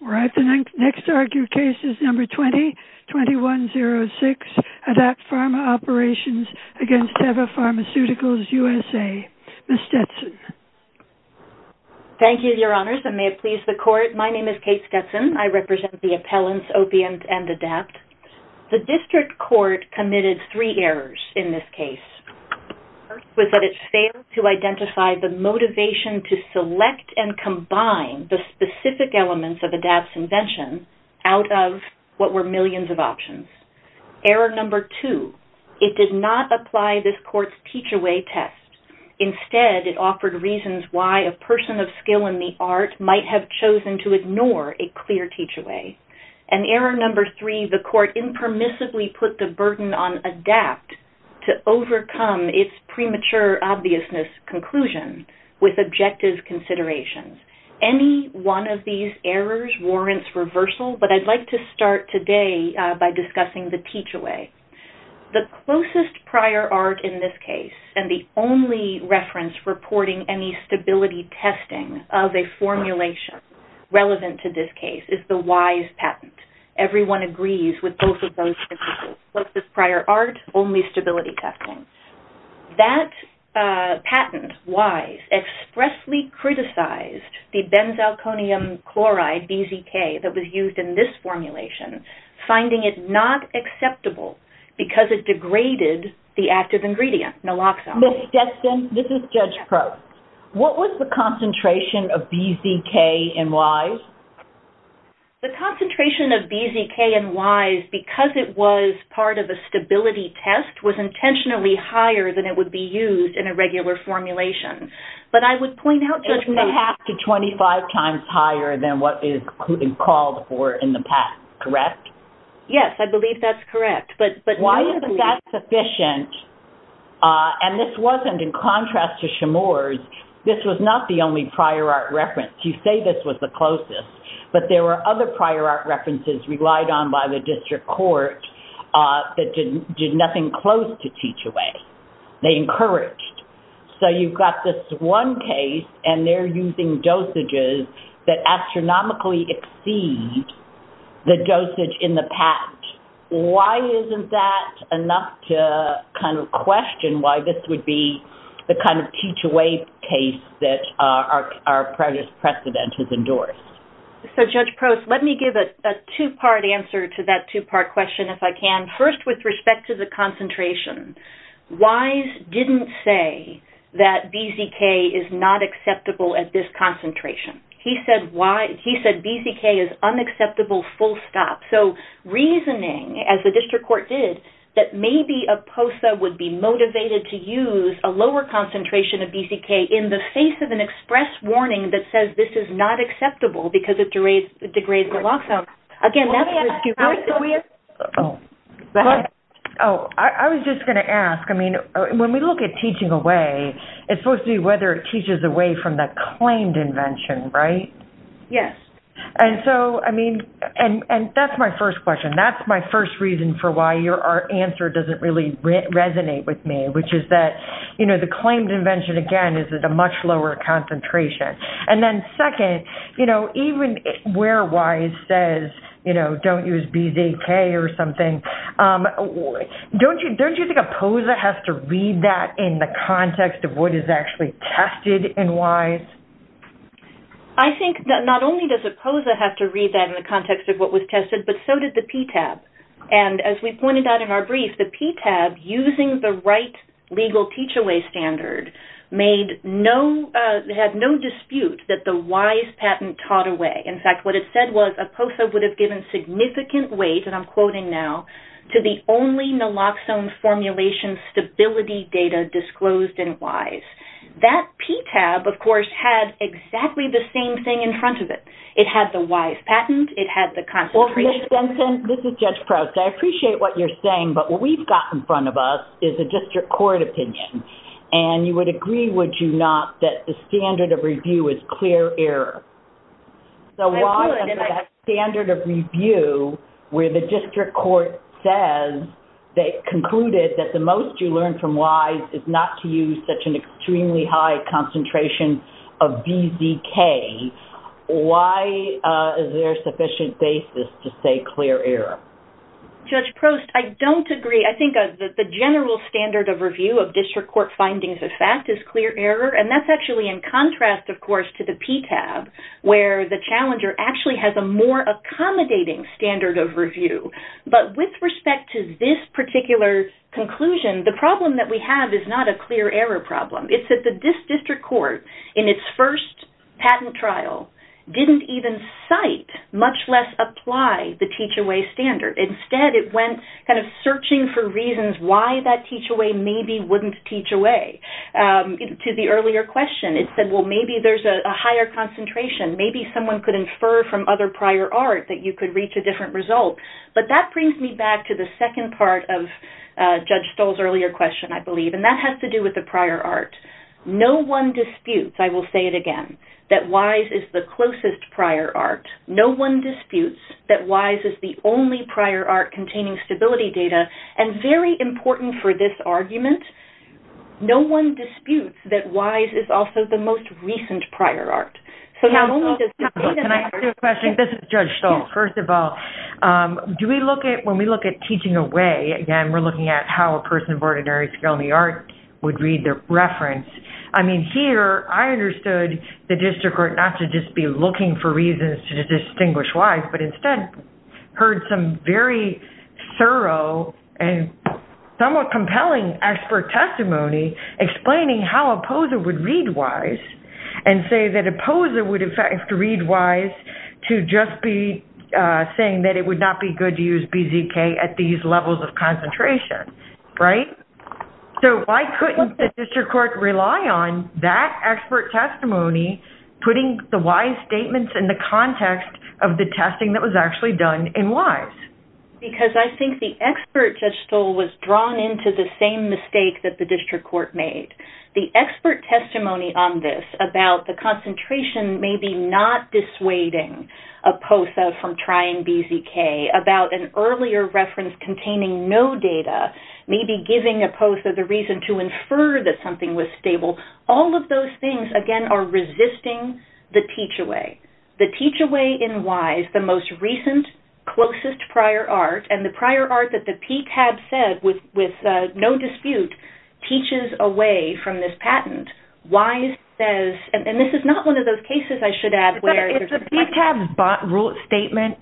The next argued case is number 20-2106, ADAPT Pharma Operations v. Teva Pharmaceuticals USA. Ms. Stetson. Thank you, Your Honors, and may it please the Court. My name is Kate Stetson. I represent the appellants Opium and ADAPT. The District Court committed three errors in this case. The first was that it failed to identify the motivation to select and combine the specific elements of ADAPT's invention out of what were millions of options. Error number two, it did not apply this Court's teach-away test. Instead, it offered reasons why a person of skill in the art might have chosen to ignore a clear teach-away. And error number three, the Court impermissibly put the burden on ADAPT to overcome its premature obviousness conclusion with objective considerations. Any one of these errors warrants reversal, but I'd like to start today by discussing the teach-away. The closest prior art in this case, and the only reference reporting any stability testing of a formulation relevant to this case, is the WISE patent. Everyone agrees with both of those principles. Closest prior art, only stability testing. That patent, WISE, expressly criticized the benzalkonium chloride, BZK, that was used in this formulation, finding it not acceptable because it degraded the active ingredient, naloxone. Ms. Stetson, this is Judge Probst. What was the concentration of BZK in WISE? The concentration of BZK in WISE, because it was part of a stability test, was intentionally higher than it would be used in a regular formulation. But I would point out, Judge Probst- It was half to 25 times higher than what is called for in the past, correct? Yes, I believe that's correct. Why isn't that sufficient? And this wasn't in contrast to Chemours. This was not the only prior art reference. You say this was the closest. But there were other prior art references relied on by the district court that did nothing close to teach-away. They encouraged. So you've got this one case, and they're using dosages that astronomically exceed the dosage in the patent. Why isn't that enough to kind of question why this would be the kind of teach-away case that our previous precedent has endorsed? So, Judge Probst, let me give a two-part answer to that two-part question, if I can. First, with respect to the concentration, WISE didn't say that BZK is not acceptable at this concentration. He said BZK is unacceptable full stop. So, reasoning, as the district court did, that maybe a POSA would be motivated to use a lower concentration of BZK in the face of an express warning that says this is not acceptable because it degrades the long-form. I was just going to ask, when we look at teaching away, it's supposed to be whether it teaches away from the claimed invention, right? Yes. And that's my first question. That's my first reason for why your answer doesn't really resonate with me, which is that the claimed invention, again, is at a much lower concentration. And then second, even where WISE says don't use BZK or something, don't you think a POSA has to read that in the context of what is actually tested in WISE? I think that not only does a POSA have to read that in the context of what was tested, but so did the PTAB. And as we pointed out in our brief, the PTAB, using the right legal teach-away standard, had no dispute that the WISE patent taught away. In fact, what it said was a POSA would have given significant weight, and I'm quoting now, to the only naloxone formulation stability data disclosed in WISE. That PTAB, of course, had exactly the same thing in front of it. It had the WISE patent. It had the concentration. Well, Ms. Benson, this is Judge Proust. I appreciate what you're saying, but what we've got in front of us is a district court opinion. And you would agree, would you not, that the standard of review is clear error? I agree with it. If you have a standard of review where the district court concluded that the most you learn from WISE is not to use such an extremely high concentration of BZK, why is there sufficient basis to say clear error? Judge Proust, I don't agree. I think the general standard of review of district court findings of fact is clear error. And that's actually in contrast, of course, to the PTAB, where the challenger actually has a more accommodating standard of review. But with respect to this particular conclusion, the problem that we have is not a clear error problem. It's that this district court, in its first patent trial, didn't even cite, much less apply, the teach-away standard. Instead, it went kind of searching for reasons why that teach-away maybe wouldn't teach away. To the earlier question, it said, well, maybe there's a higher concentration. Maybe someone could infer from other prior art that you could reach a different result. But that brings me back to the second part of Judge Stoll's earlier question, I believe, and that has to do with the prior art. No one disputes, I will say it again, that WISE is the closest prior art. No one disputes that WISE is the only prior art containing stability data. And very important for this argument, no one disputes that WISE is also the most recent prior art. Can I ask you a question? This is Judge Stoll. First of all, when we look at teaching away, again, we're looking at how a person of ordinary skill in the art would read the reference. I mean, here, I understood the district court not to just be looking for reasons to distinguish WISE, but instead heard some very thorough and somewhat compelling expert testimony explaining how a poser would read WISE and say that a poser would, in fact, have to read WISE to just be saying that it would not be good to use BZK at these levels of concentration. So why couldn't the district court rely on that expert testimony putting the WISE statements in the context of the testing that was actually done in WISE? Because I think the expert, Judge Stoll, was drawn into the same mistake that the district court made. The expert testimony on this about the concentration maybe not dissuading a poser from trying BZK, about an earlier reference containing no data, maybe giving a poser the reason to infer that something was stable, all of those things, again, are resisting the teach-away. The teach-away in WISE, the most recent, closest prior art, and the prior art that the PTAB said with no dispute, teaches away from this patent. WISE says, and this is not one of those cases, I should add, where there's a question. Does the PTAB rule statement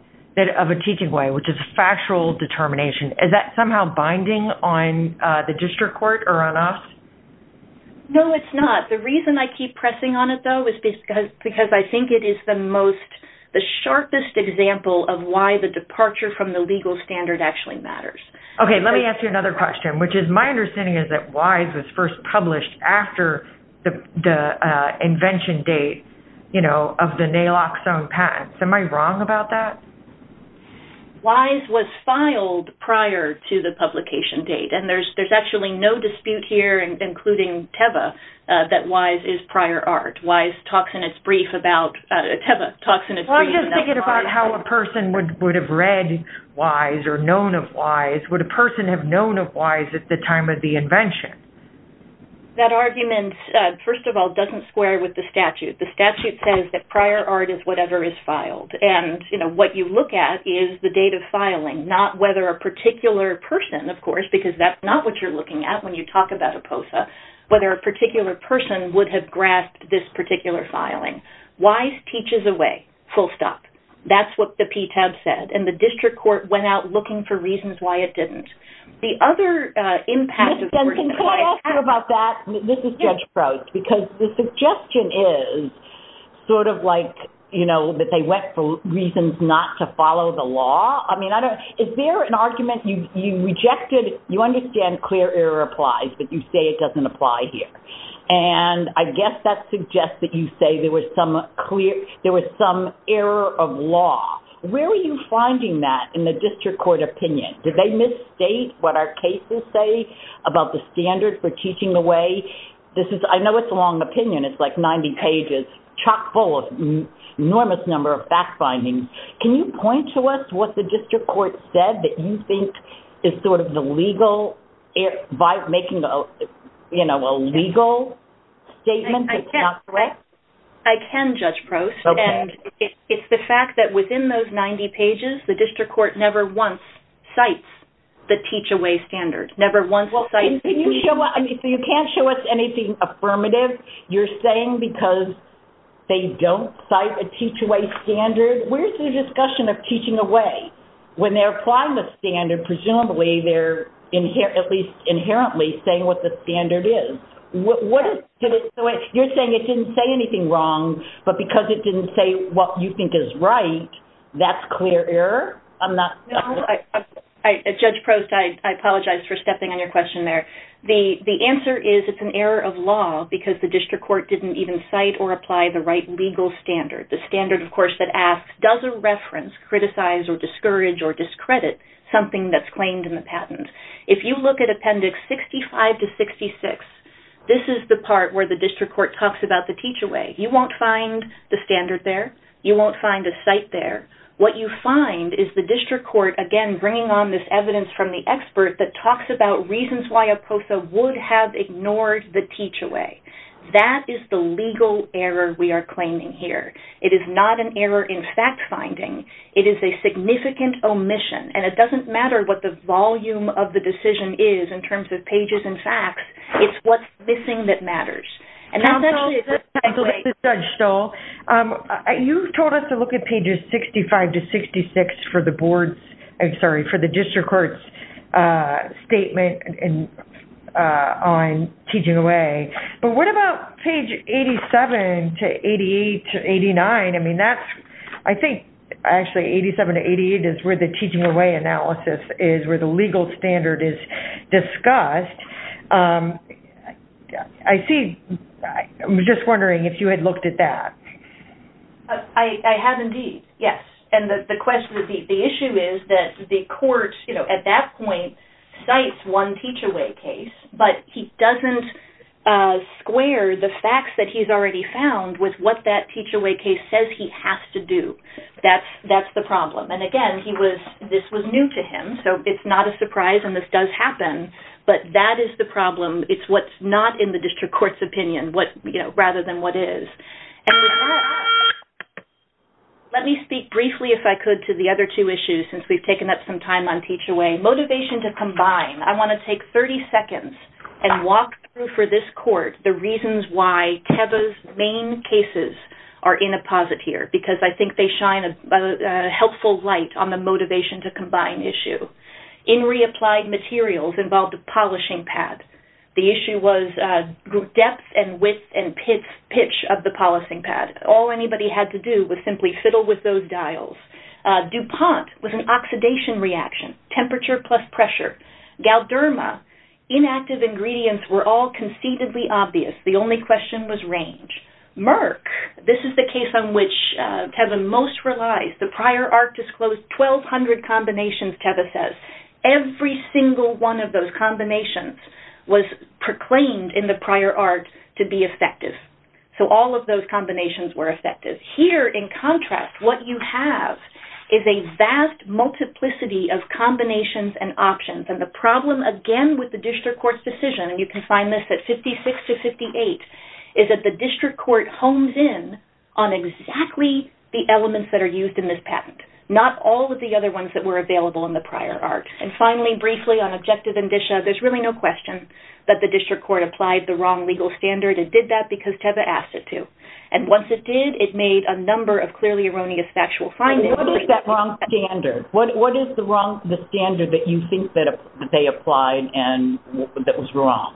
of a teach-away, which is a factual determination, is that somehow binding on the district court or on us? No, it's not. The reason I keep pressing on it, though, is because I think it is the most, the sharpest example of why the departure from the legal standard actually matters. Okay, let me ask you another question, which is, my understanding is that WISE was first published after the invention date of the Naloxone patent. Am I wrong about that? WISE was filed prior to the publication date, and there's actually no dispute here, including TEVA, that WISE is prior art. WISE talks in its brief about, TEVA talks in its brief about WISE. I'm just thinking about how a person would have read WISE or known of WISE. Would a person have known of WISE at the time of the invention? That argument, first of all, doesn't square with the statute. The statute says that prior art is whatever is filed. And, you know, what you look at is the date of filing, not whether a particular person, of course, because that's not what you're looking at when you talk about APOSA, whether a particular person would have grasped this particular filing. WISE teaches away, full stop. That's what the PTAB said, and the district court went out looking for reasons why it didn't. The other impact of… Can I ask you about that? This is Judge Prost, because the suggestion is sort of like, you know, that they went for reasons not to follow the law. I mean, is there an argument you rejected? You understand clear error applies, but you say it doesn't apply here. And I guess that suggests that you say there was some clear, there was some error of law. Where are you finding that in the district court opinion? Did they misstate what our cases say about the standard for teaching away? This is, I know it's a long opinion. It's like 90 pages, chock full of enormous number of fact findings. Can you point to us what the district court said that you think is sort of the legal, by making a, you know, a legal statement that's not correct? I can, Judge Prost. Okay. And it's the fact that within those 90 pages, the district court never once cites the teach away standard, never once cites… This is a discussion of teaching away. When they're applying the standard, presumably they're, at least inherently, saying what the standard is. You're saying it didn't say anything wrong, but because it didn't say what you think is right, that's clear error? No, Judge Prost, I apologize for stepping on your question there. The answer is it's an error of law because the district court didn't even cite or apply the right legal standard. The standard, of course, that asks, does a reference criticize or discourage or discredit something that's claimed in the patent? If you look at Appendix 65 to 66, this is the part where the district court talks about the teach away. You won't find the standard there. You won't find a cite there. What you find is the district court, again, bringing on this evidence from the expert that talks about reasons why a POSA would have ignored the teach away. That is the legal error we are claiming here. It is not an error in fact finding. It is a significant omission, and it doesn't matter what the volume of the decision is in terms of pages and facts. It's what's missing that matters. Counsel, this is Judge Stoll. You told us to look at pages 65 to 66 for the district court's statement on teaching away. But what about page 87 to 88 to 89? I think actually 87 to 88 is where the teaching away analysis is, where the legal standard is discussed. I was just wondering if you had looked at that. I have indeed, yes. The issue is that the court at that point cites one teach away case, but he doesn't square the facts that he's already found with what that teach away case says he has to do. That's the problem. Again, this was new to him, so it's not a surprise and this does happen. But that is the problem. It's what's not in the district court's opinion rather than what is. Let me speak briefly if I could to the other two issues since we've taken up some time on teach away. Motivation to combine. I want to take 30 seconds and walk through for this court the reasons why Teva's main cases are in a posit here, because I think they shine a helpful light on the motivation to combine issue. In reapplied materials involved a polishing pad. The issue was depth and width and pitch of the polishing pad. All anybody had to do was simply fiddle with those dials. DuPont was an oxidation reaction, temperature plus pressure. Galderma, inactive ingredients were all conceitedly obvious. The only question was range. Merck, this is the case on which Teva most relies. The prior art disclosed 1,200 combinations, Teva says. Every single one of those combinations was proclaimed in the prior art to be effective. So all of those combinations were effective. Here, in contrast, what you have is a vast multiplicity of combinations and options. And the problem, again, with the district court's decision, and you can find this at 56 to 58, is that the district court hones in on exactly the elements that are used in this patent, not all of the other ones that were available in the prior art. And finally, briefly, on objective indicia, there's really no question that the district court applied the wrong legal standard. It did that because Teva asked it to. And once it did, it made a number of clearly erroneous factual findings. What is that wrong standard? What is the standard that you think that they applied and that was wrong?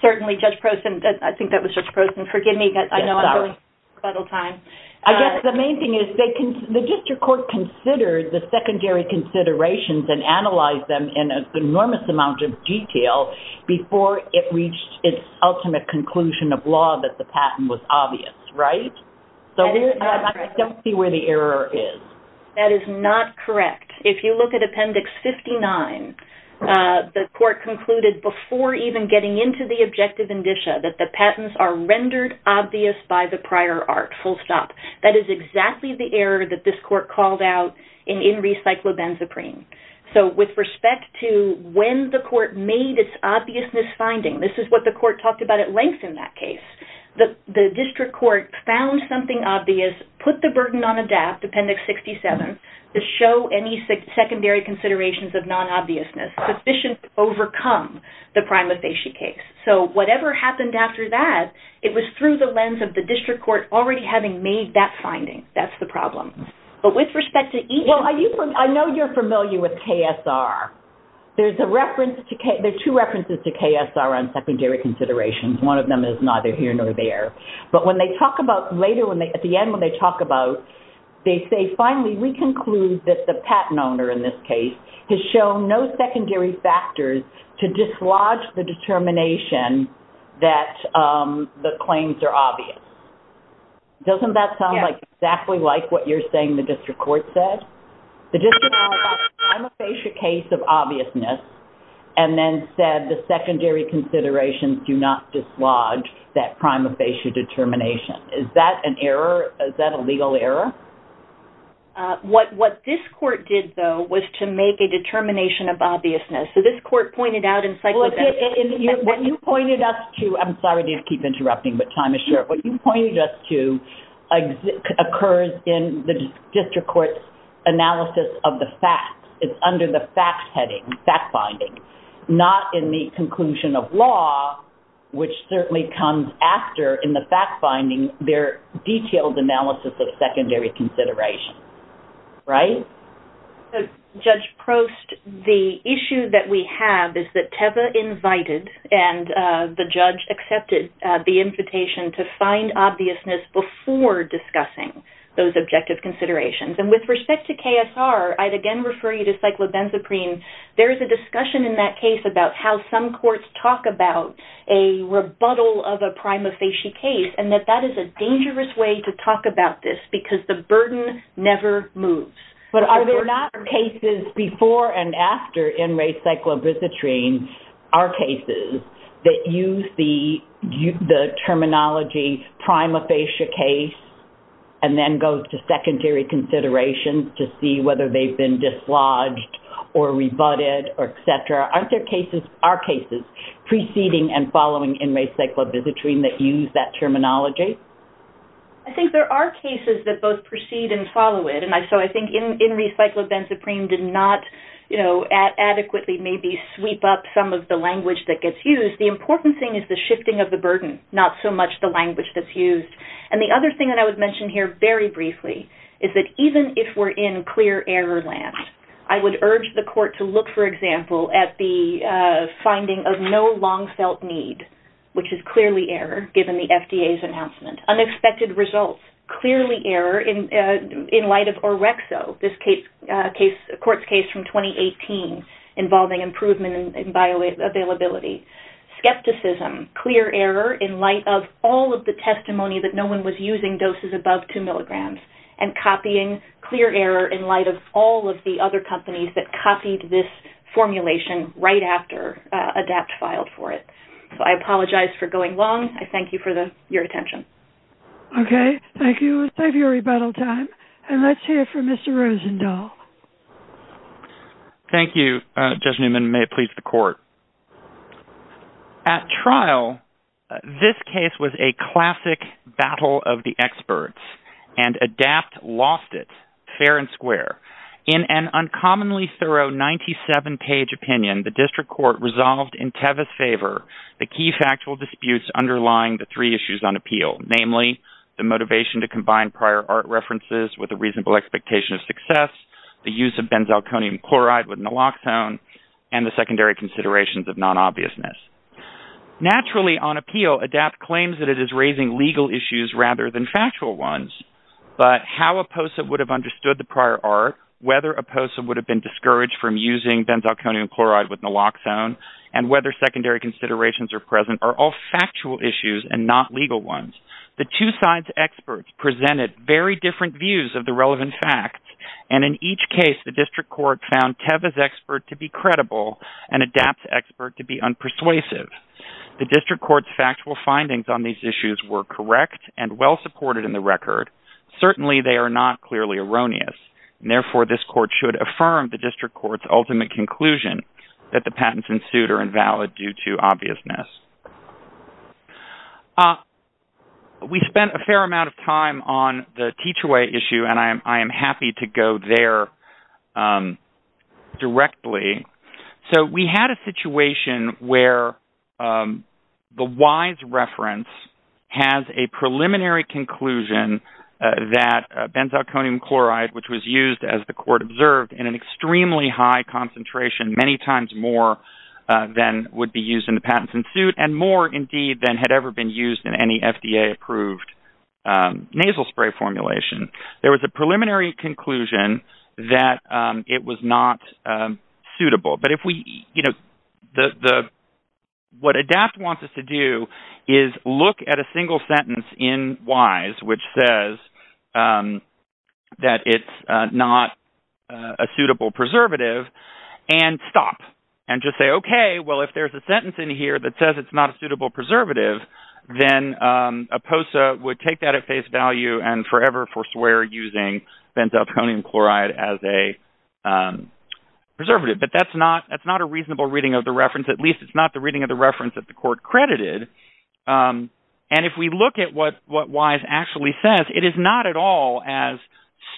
Certainly, Judge Prossen, I think that was Judge Prossen. Forgive me. I know I'm running out of time. I guess the main thing is the district court considered the secondary considerations and analyzed them in an enormous amount of detail before it reached its ultimate conclusion of law that the patent was obvious, right? So I don't see where the error is. That is not correct. If you look at Appendix 59, the court concluded before even getting into the objective indicia that the patents are rendered obvious by the prior art, full stop. That is exactly the error that this court called out in Recyclobenzaprine. So with respect to when the court made its obviousness finding, this is what the court talked about at length in that case, the district court found something obvious, put the burden on ADAPT, Appendix 67, to show any secondary considerations of non-obviousness sufficient to overcome the prima facie case. So whatever happened after that, it was through the lens of the district court already having made that finding. That's the problem. But with respect to even... Well, I know you're familiar with KSR. There are two references to KSR on secondary considerations. One of them is neither here nor there. But when they talk about later, at the end when they talk about, they say, finally, we conclude that the patent owner in this case has shown no secondary factors to dislodge the determination that the claims are obvious. Doesn't that sound exactly like what you're saying the district court said? The district court found a prima facie case of obviousness and then said the secondary considerations do not dislodge that prima facie determination. Is that an error? Is that a legal error? What this court did, though, was to make a determination of obviousness. So this court pointed out in psychographic... What you pointed us to... I'm sorry to keep interrupting, but time is short. What you pointed us to occurs in the district court's analysis of the facts. It's under the facts heading, fact-finding, not in the conclusion of law, which certainly comes after, in the fact-finding, their detailed analysis of secondary consideration. Right? Judge Prost, the issue that we have is that Teva invited and the judge accepted the invitation to find obviousness before discussing those objective considerations. And with respect to KSR, I'd again refer you to cyclobenzaprine. There is a discussion in that case about how some courts talk about a rebuttal of a prima facie case and that that is a dangerous way to talk about this because the burden never moves. But are there not cases before and after NRA cyclobenzaprine, are cases that use the terminology prima facie case and then go to secondary consideration to see whether they've been dislodged or rebutted or et cetera, aren't there cases, are cases preceding and following NRA cyclobenzaprine that use that terminology? I think there are cases that both precede and follow it. And so I think NRA cyclobenzaprine did not, you know, adequately maybe sweep up some of the language that gets used. The important thing is the shifting of the burden, not so much the language that's used. And the other thing that I would mention here very briefly is that even if we're in clear error land, I would urge the court to look, for example, at the finding of no long-felt need, which is clearly error given the FDA's announcement. Unexpected results, clearly error in light of OREXO, this court's case from 2018 involving improvement in bioavailability. Skepticism, clear error in light of all of the testimony that no one was using doses above 2 milligrams and copying clear error in light of all of the other companies that copied this formulation right after ADAPT filed for it. So I apologize for going long. I thank you for your attention. Okay. Thank you. Let's have your rebuttal time. And let's hear from Mr. Rosendahl. Thank you, Judge Newman. May it please the court. At trial, this case was a classic battle of the experts. And ADAPT lost it, fair and square. In an uncommonly thorough 97-page opinion, the district court resolved in Tevis' favor the key factual disputes underlying the three issues on appeal, namely the motivation to combine prior art references with a reasonable expectation of success, the use of benzalkonium chloride with naloxone, and the secondary considerations of non-obviousness. Naturally, on appeal, ADAPT claims that it is raising legal issues rather than factual ones. But how APOSA would have understood the prior art, whether APOSA would have been discouraged from using benzalkonium chloride with naloxone, and whether secondary considerations are present are all factual issues and not legal ones. The two sides' experts presented very different views of the relevant facts. And in each case, the district court found Tevis' expert to be credible and ADAPT's expert to be unpersuasive. The district court's factual findings on these issues were correct and well-supported in the record. Certainly, they are not clearly erroneous. Therefore, this court should affirm the district court's ultimate conclusion that the patents ensued are invalid due to obviousness. We spent a fair amount of time on the Teach-Away issue, and I am happy to go there directly. So we had a situation where the WISE reference has a preliminary conclusion that benzalkonium chloride, which was used, as the court observed, in an extremely high concentration, many times more than would be used in the patents ensued, and more, indeed, than had ever been used in any FDA-approved nasal spray formulation. There was a preliminary conclusion that it was not suitable. What ADAPT wants us to do is look at a single sentence in WISE which says that it's not a suitable preservative and stop and just say, OK, well, if there's a sentence in here that says it's not a suitable preservative, then APOSA would take that at face value and forever forswear using benzalkonium chloride as a preservative. But that's not a reasonable reading of the reference. At least, it's not the reading of the reference that the court credited. And if we look at what WISE actually says, it is not at all as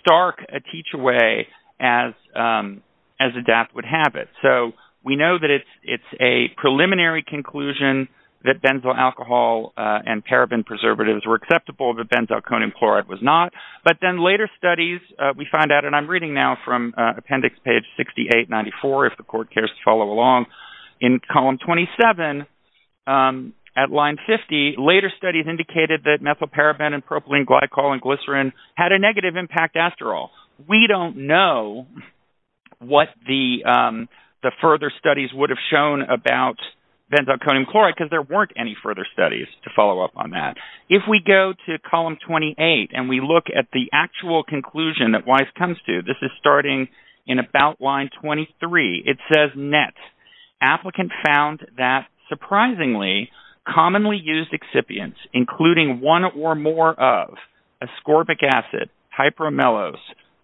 stark a teach-away as ADAPT would have it. So we know that it's a preliminary conclusion that benzyl alcohol and paraben preservatives were acceptable, that benzalkonium chloride was not. But then later studies, we find out, and I'm reading now from appendix page 6894, if the court cares to follow along, in column 27 at line 50, later studies indicated that methylparaben and propylene glycol and glycerin had a negative impact after all. We don't know what the further studies would have shown about benzalkonium chloride because there weren't any further studies to follow up on that. If we go to column 28 and we look at the actual conclusion that WISE comes to, this is starting in about line 23, it says, Net. Applicant found that surprisingly commonly used excipients, including one or more of ascorbic acid, hyperamylose,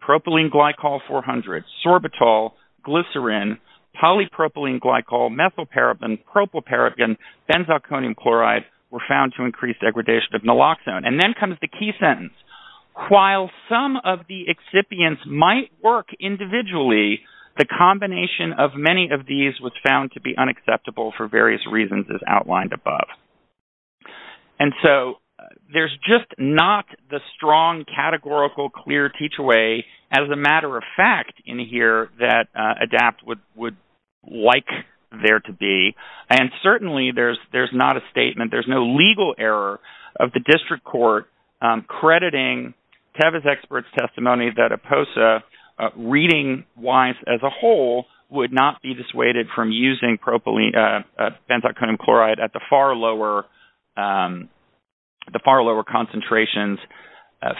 propylene glycol 400, sorbitol, glycerin, polypropylene glycol, methylparaben, propylparaben, benzalkonium chloride, were found to increase degradation of naloxone. And then comes the key sentence. While some of the excipients might work individually, the combination of many of these was found to be unacceptable for various reasons as outlined above. And so there's just not the strong categorical clear teach-away, as a matter of fact, in here that ADAPT would like there to be. And certainly there's not a statement, there's no legal error of the district court crediting Tevez Expert's testimony that APOSA reading-wise as a whole would not be dissuaded from using benzalkonium chloride at the far lower concentrations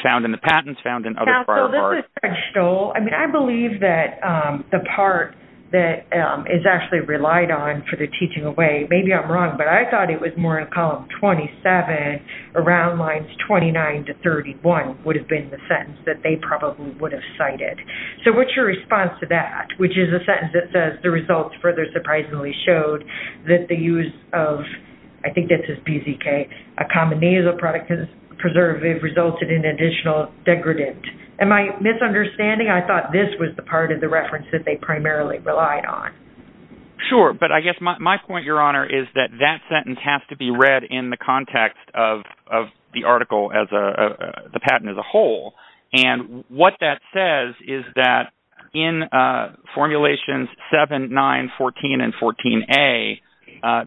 found in the patents, found in other prior parts. I mean, I believe that the part that is actually relied on for the teach-away, maybe I'm wrong, but I thought it was more in column 27 around lines 29 to 31 would have been the sentence that they probably would have cited. So what's your response to that? Which is a sentence that says, the results further surprisingly showed that the use of, I think this is PZK, a common nasal preservative resulted in additional degradant. Am I misunderstanding? I thought this was the part of the reference that they primarily relied on. Sure. But I guess my point, Your Honor, is that that sentence has to be read in the context of the article as a, the patent as a whole. And what that says is that in formulations 7, 9, 14, and 14A,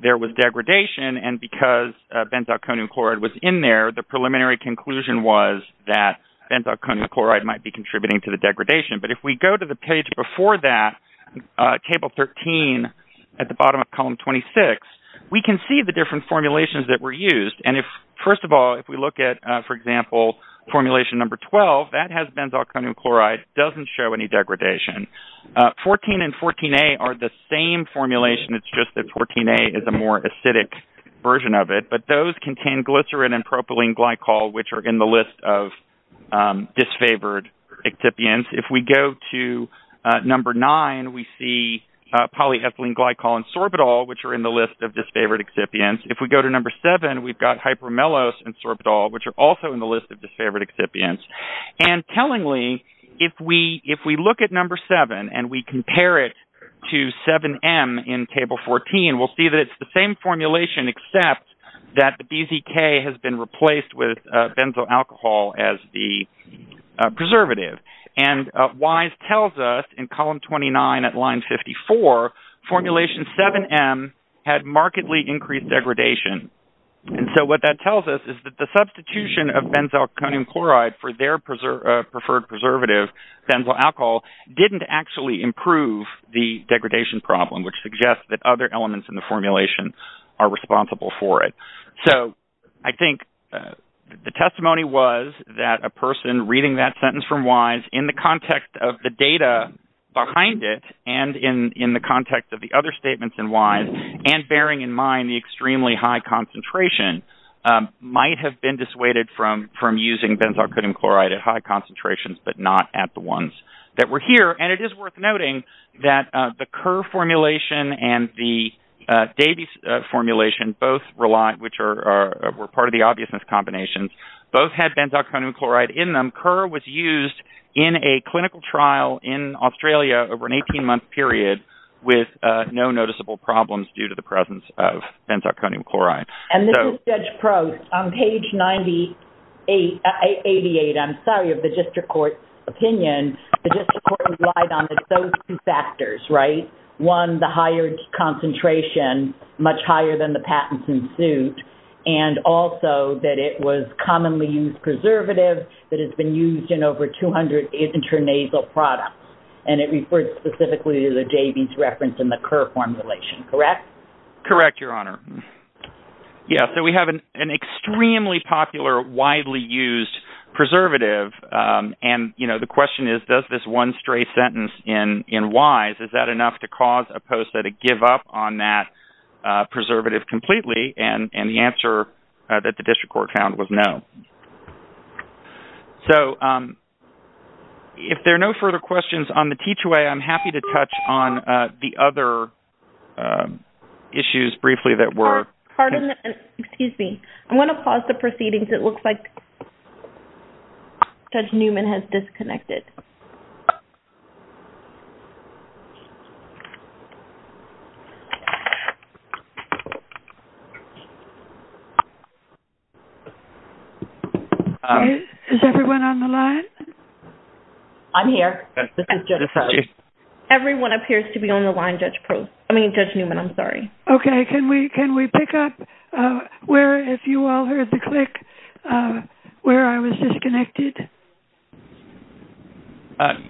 there was degradation. And because benzalkonium chloride was in there, the preliminary conclusion was that benzalkonium chloride might be contributing to the degradation. But if we go to the page before that, table 13 at the bottom of column 26, we can see the different formulations that were used. And if, first of all, if we look at, for example, formulation number 12, that has benzalkonium chloride, doesn't show any degradation. 14 and 14A are the same formulation. It's just that 14A is a more acidic version of it. But those contain glycerin and propylene glycol, which are in the list of disfavored excipients. If we go to number nine, we see polyethylene glycol and sorbitol, which are in the list of disfavored excipients. If we go to number seven, we've got hypermellose and sorbitol, which are also in the list of disfavored excipients. And tellingly, if we look at number seven and we compare it to 7M in table 14, we'll see that it's the same formulation, except that the BZK has been replaced with benzoalcohol as the preservative. And WISE tells us in column 29 at line 54, formulation 7M had markedly increased degradation. And so what that tells us is that the substitution of benzalkonium chloride for their preferred preservative, benzoalcohol, didn't actually improve the degradation problem, which suggests that other elements in the formulation are responsible for it. So I think the testimony was that a person reading that sentence from WISE in the context of the data behind it, and in the context of the other statements in WISE, and bearing in mind the extremely high concentration, might have been dissuaded from using benzalkonium chloride at high concentrations, but not at the ones that were here. And it is worth noting that the Kerr formulation and the Davies formulation both rely, which were part of the obviousness combinations, both had benzalkonium chloride in them. And Kerr was used in a clinical trial in Australia over an 18-month period with no noticeable problems due to the presence of benzalkonium chloride. And this is Judge Prost. On page 98, I'm sorry, of the district court's opinion, the district court relied on those two factors, right? One, the higher concentration, much higher than the patents ensued, and also that it was commonly used preservative that has been used in over 200 intranasal products. And it referred specifically to the Davies reference in the Kerr formulation, correct? Correct, Your Honor. Yeah. So we have an extremely popular, widely used preservative. And, you know, the question is does this one stray sentence in WISE, is that enough to cause a poster to give up on that preservative completely? And the answer that the district court found was no. So if there are no further questions on the T2A, I'm happy to touch on the other issues briefly that were. Excuse me. I'm going to pause the proceedings. It looks like Judge Newman has disconnected. Is everyone on the line? I'm here. Everyone appears to be on the line, Judge Newman, I'm sorry. Okay. Can we pick up where, if you all heard the click, where I was disconnected?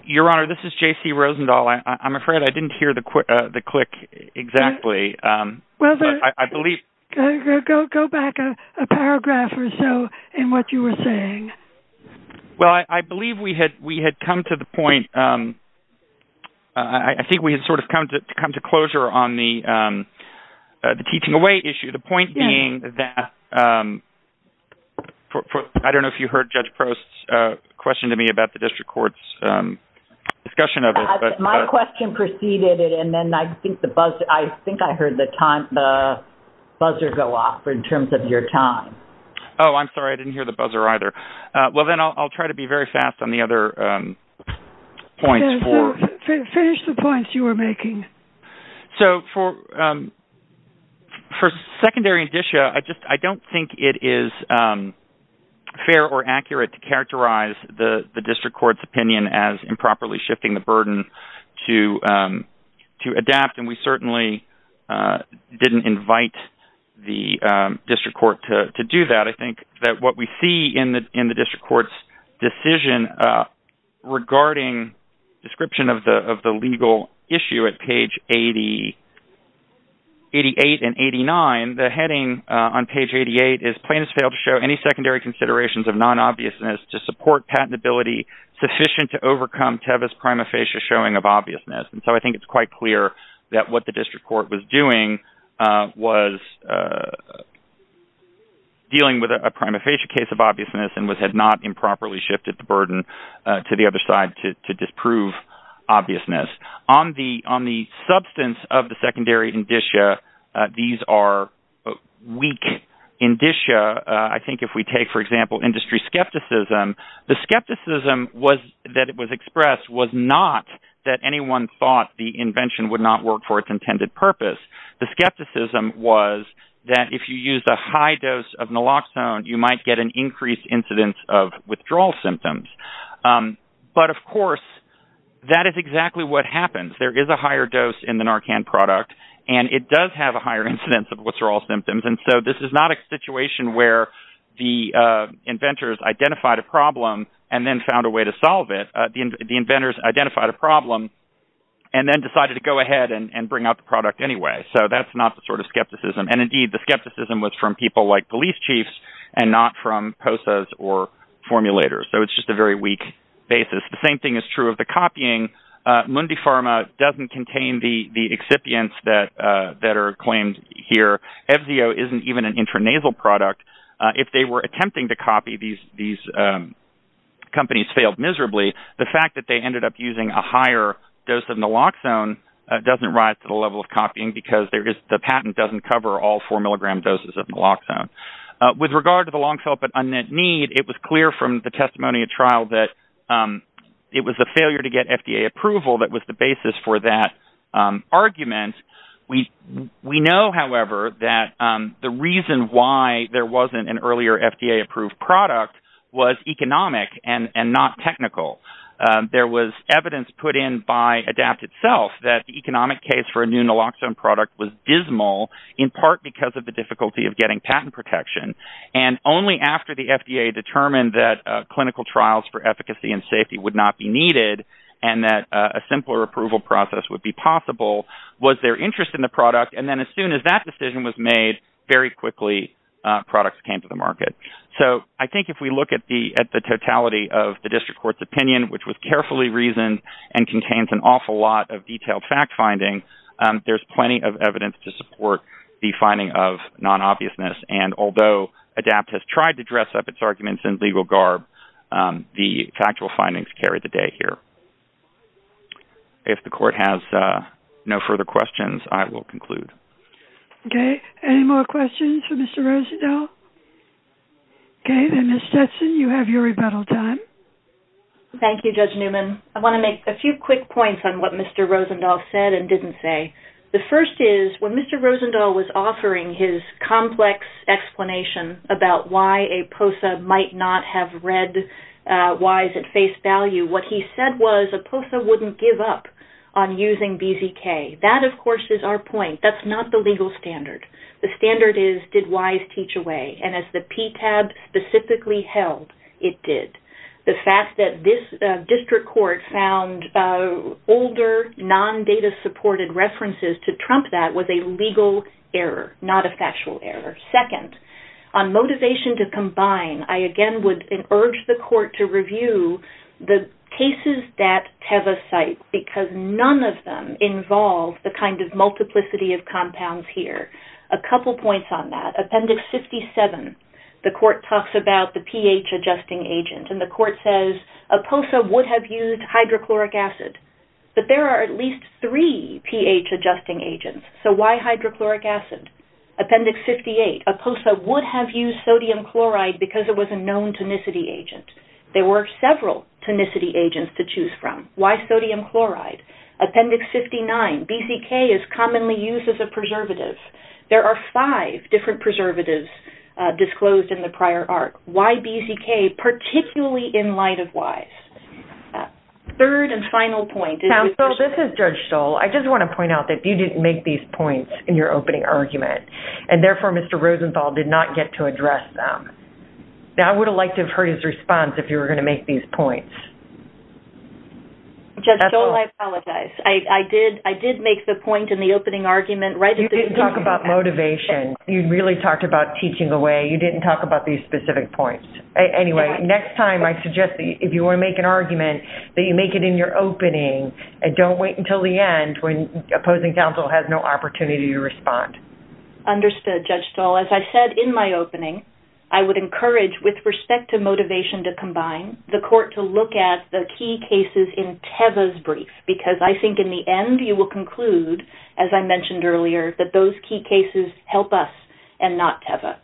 Your Honor, this is J.C. Rosendahl. I'm afraid I didn't hear the click exactly. Go back a paragraph or so in what you were saying. Well, I believe we had come to the point, I think we had sort of come to closure on the teaching away issue. The point being that, I don't know if you heard Judge Prost, question to me about the district court's discussion of it. My question preceded it, and then I think I heard the buzzer go off in terms of your time. Oh, I'm sorry. I didn't hear the buzzer either. Well, then I'll try to be very fast on the other points. Finish the points you were making. So for secondary indicia, I don't think it is fair or accurate to characterize the district court's opinion as improperly shifting the burden to adapt, and we certainly didn't invite the district court to do that. I think that what we see in the district court's decision regarding description of the legal issue at page 88 and 89, the heading on page 88 is plaintiffs failed to show any secondary considerations of non-obviousness to support patentability sufficient to overcome Tevis prima facie showing of obviousness. And so I think it's quite clear that what the district court was doing was dealing with a prima facie case of obviousness and had not improperly shifted the burden to the other side to disprove obviousness. On the substance of the secondary indicia, these are weak indicia. I think if we take, for example, industry skepticism, the skepticism that was expressed was not that anyone thought the invention would not work for its intended purpose. The skepticism was that if you use a high dose of naloxone, you might get an increased incidence of withdrawal symptoms. But, of course, that is exactly what happens. There is a higher dose in the Narcan product, and it does have a higher incidence of withdrawal symptoms. And so this is not a situation where the inventors identified a problem and then found a way to solve it. The inventors identified a problem and then decided to go ahead and bring out the product anyway. So that's not the sort of skepticism. And, indeed, the skepticism was from people like police chiefs and not from POSAs or formulators. So it's just a very weak basis. The same thing is true of the copying. Mundipharma doesn't contain the excipients that are claimed here. Evzio isn't even an intranasal product. If they were attempting to copy, these companies failed miserably. The fact that they ended up using a higher dose of naloxone doesn't rise to the level of copying because the patent doesn't cover all 4-milligram doses of naloxone. With regard to the long-felt but unmet need, it was clear from the testimony at trial that it was the failure to get FDA approval that was the basis for that argument. We know, however, that the reason why there wasn't an earlier FDA-approved product was economic and not technical. There was evidence put in by ADAPT itself that the economic case for a new naloxone product was dismal in part because of the difficulty of getting patent protection. And only after the FDA determined that clinical trials for efficacy and safety would not be needed and that a simpler approval process would be possible was their interest in the product. And then as soon as that decision was made, very quickly products came to the market. So I think if we look at the totality of the district court's opinion, which was carefully reasoned and contains an awful lot of detailed fact-finding, there's plenty of evidence to support the finding of non-obviousness. And although ADAPT has tried to dress up its arguments in legal garb, the factual findings carry the day here. If the court has no further questions, I will conclude. Any more questions for Mr. Rosendahl? Okay. Then, Ms. Stetson, you have your rebuttal time. Thank you, Judge Newman. I want to make a few quick points on what Mr. Rosendahl said and didn't say. The first is, when Mr. Rosendahl was offering his complex explanation about why a POSA might not have read WISE at face value, what he said was a POSA wouldn't give up on using BZK. That, of course, is our point. That's not the legal standard. The standard is, did WISE teach away? And as the PTAB specifically held, it did. The fact that this district court found older, non-data-supported references to trump that was a legal error, not a factual error. Second, on motivation to combine, I, again, would urge the court to review the cases that TEVA cite, because none of them involve the kind of multiplicity of compounds here. A couple points on that. Appendix 57, the court talks about the pH-adjusting agent, and the court says a POSA would have used hydrochloric acid. But there are at least three pH-adjusting agents, so why hydrochloric acid? Appendix 58, a POSA would have used sodium chloride because it was a known tonicity agent. There were several tonicity agents to choose from. Why sodium chloride? Appendix 59, BZK is commonly used as a preservative. There are five different preservatives disclosed in the prior arc. Why BZK, particularly in light of WISE? Third and final point. Counsel, this is Judge Stoll. I just want to point out that you didn't make these points in your opening argument, and therefore Mr. Rosenthal did not get to address them. Now, I would have liked to have heard his response if you were going to make these points. Judge Stoll, I apologize. I did make the point in the opening argument right at the beginning. You didn't talk about motivation. You really talked about teaching away. You didn't talk about these specific points. Next time, I suggest that if you want to make an argument, that you make it in your opening and don't wait until the end when opposing counsel has no opportunity to respond. Understood, Judge Stoll. As I said in my opening, I would encourage, with respect to motivation to combine, the court to look at the key cases in Teva's brief because I think in the end you will conclude, as I mentioned earlier, that those key cases help us and not Teva.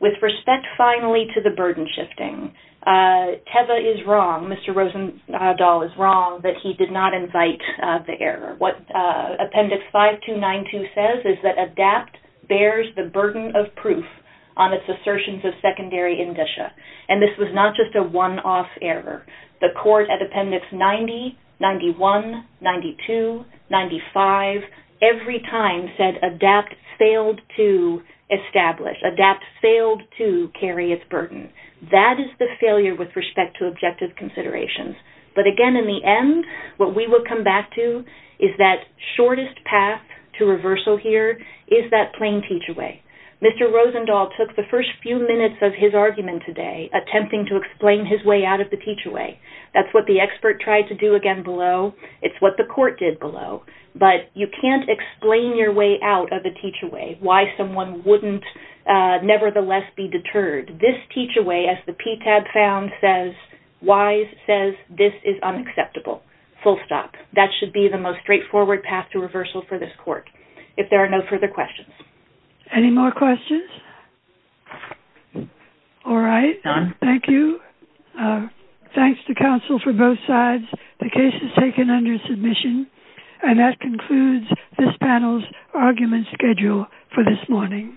With respect, finally, to the burden shifting, Teva is wrong. Mr. Rosenthal is wrong that he did not invite the error. What Appendix 5292 says is that ADAPT bears the burden of proof on its assertions of secondary indicia, and this was not just a one-off error. The court at Appendix 90, 91, 92, 95, every time said ADAPT failed to establish, ADAPT failed to carry its burden. That is the failure with respect to objective considerations. But again, in the end, what we will come back to is that shortest path to reversal here is that plain teach-away. Mr. Rosenthal took the first few minutes of his argument today attempting to explain his way out of the teach-away. That's what the expert tried to do again below. It's what the court did below. But you can't explain your way out of a teach-away, why someone wouldn't nevertheless be deterred. This teach-away, as the PTAB found says, says this is unacceptable. Full stop. That should be the most straightforward path to reversal for this court if there are no further questions. Any more questions? All right, thank you. Thanks to counsel for both sides. The case is taken under submission. And that concludes this panel's argument schedule for this morning.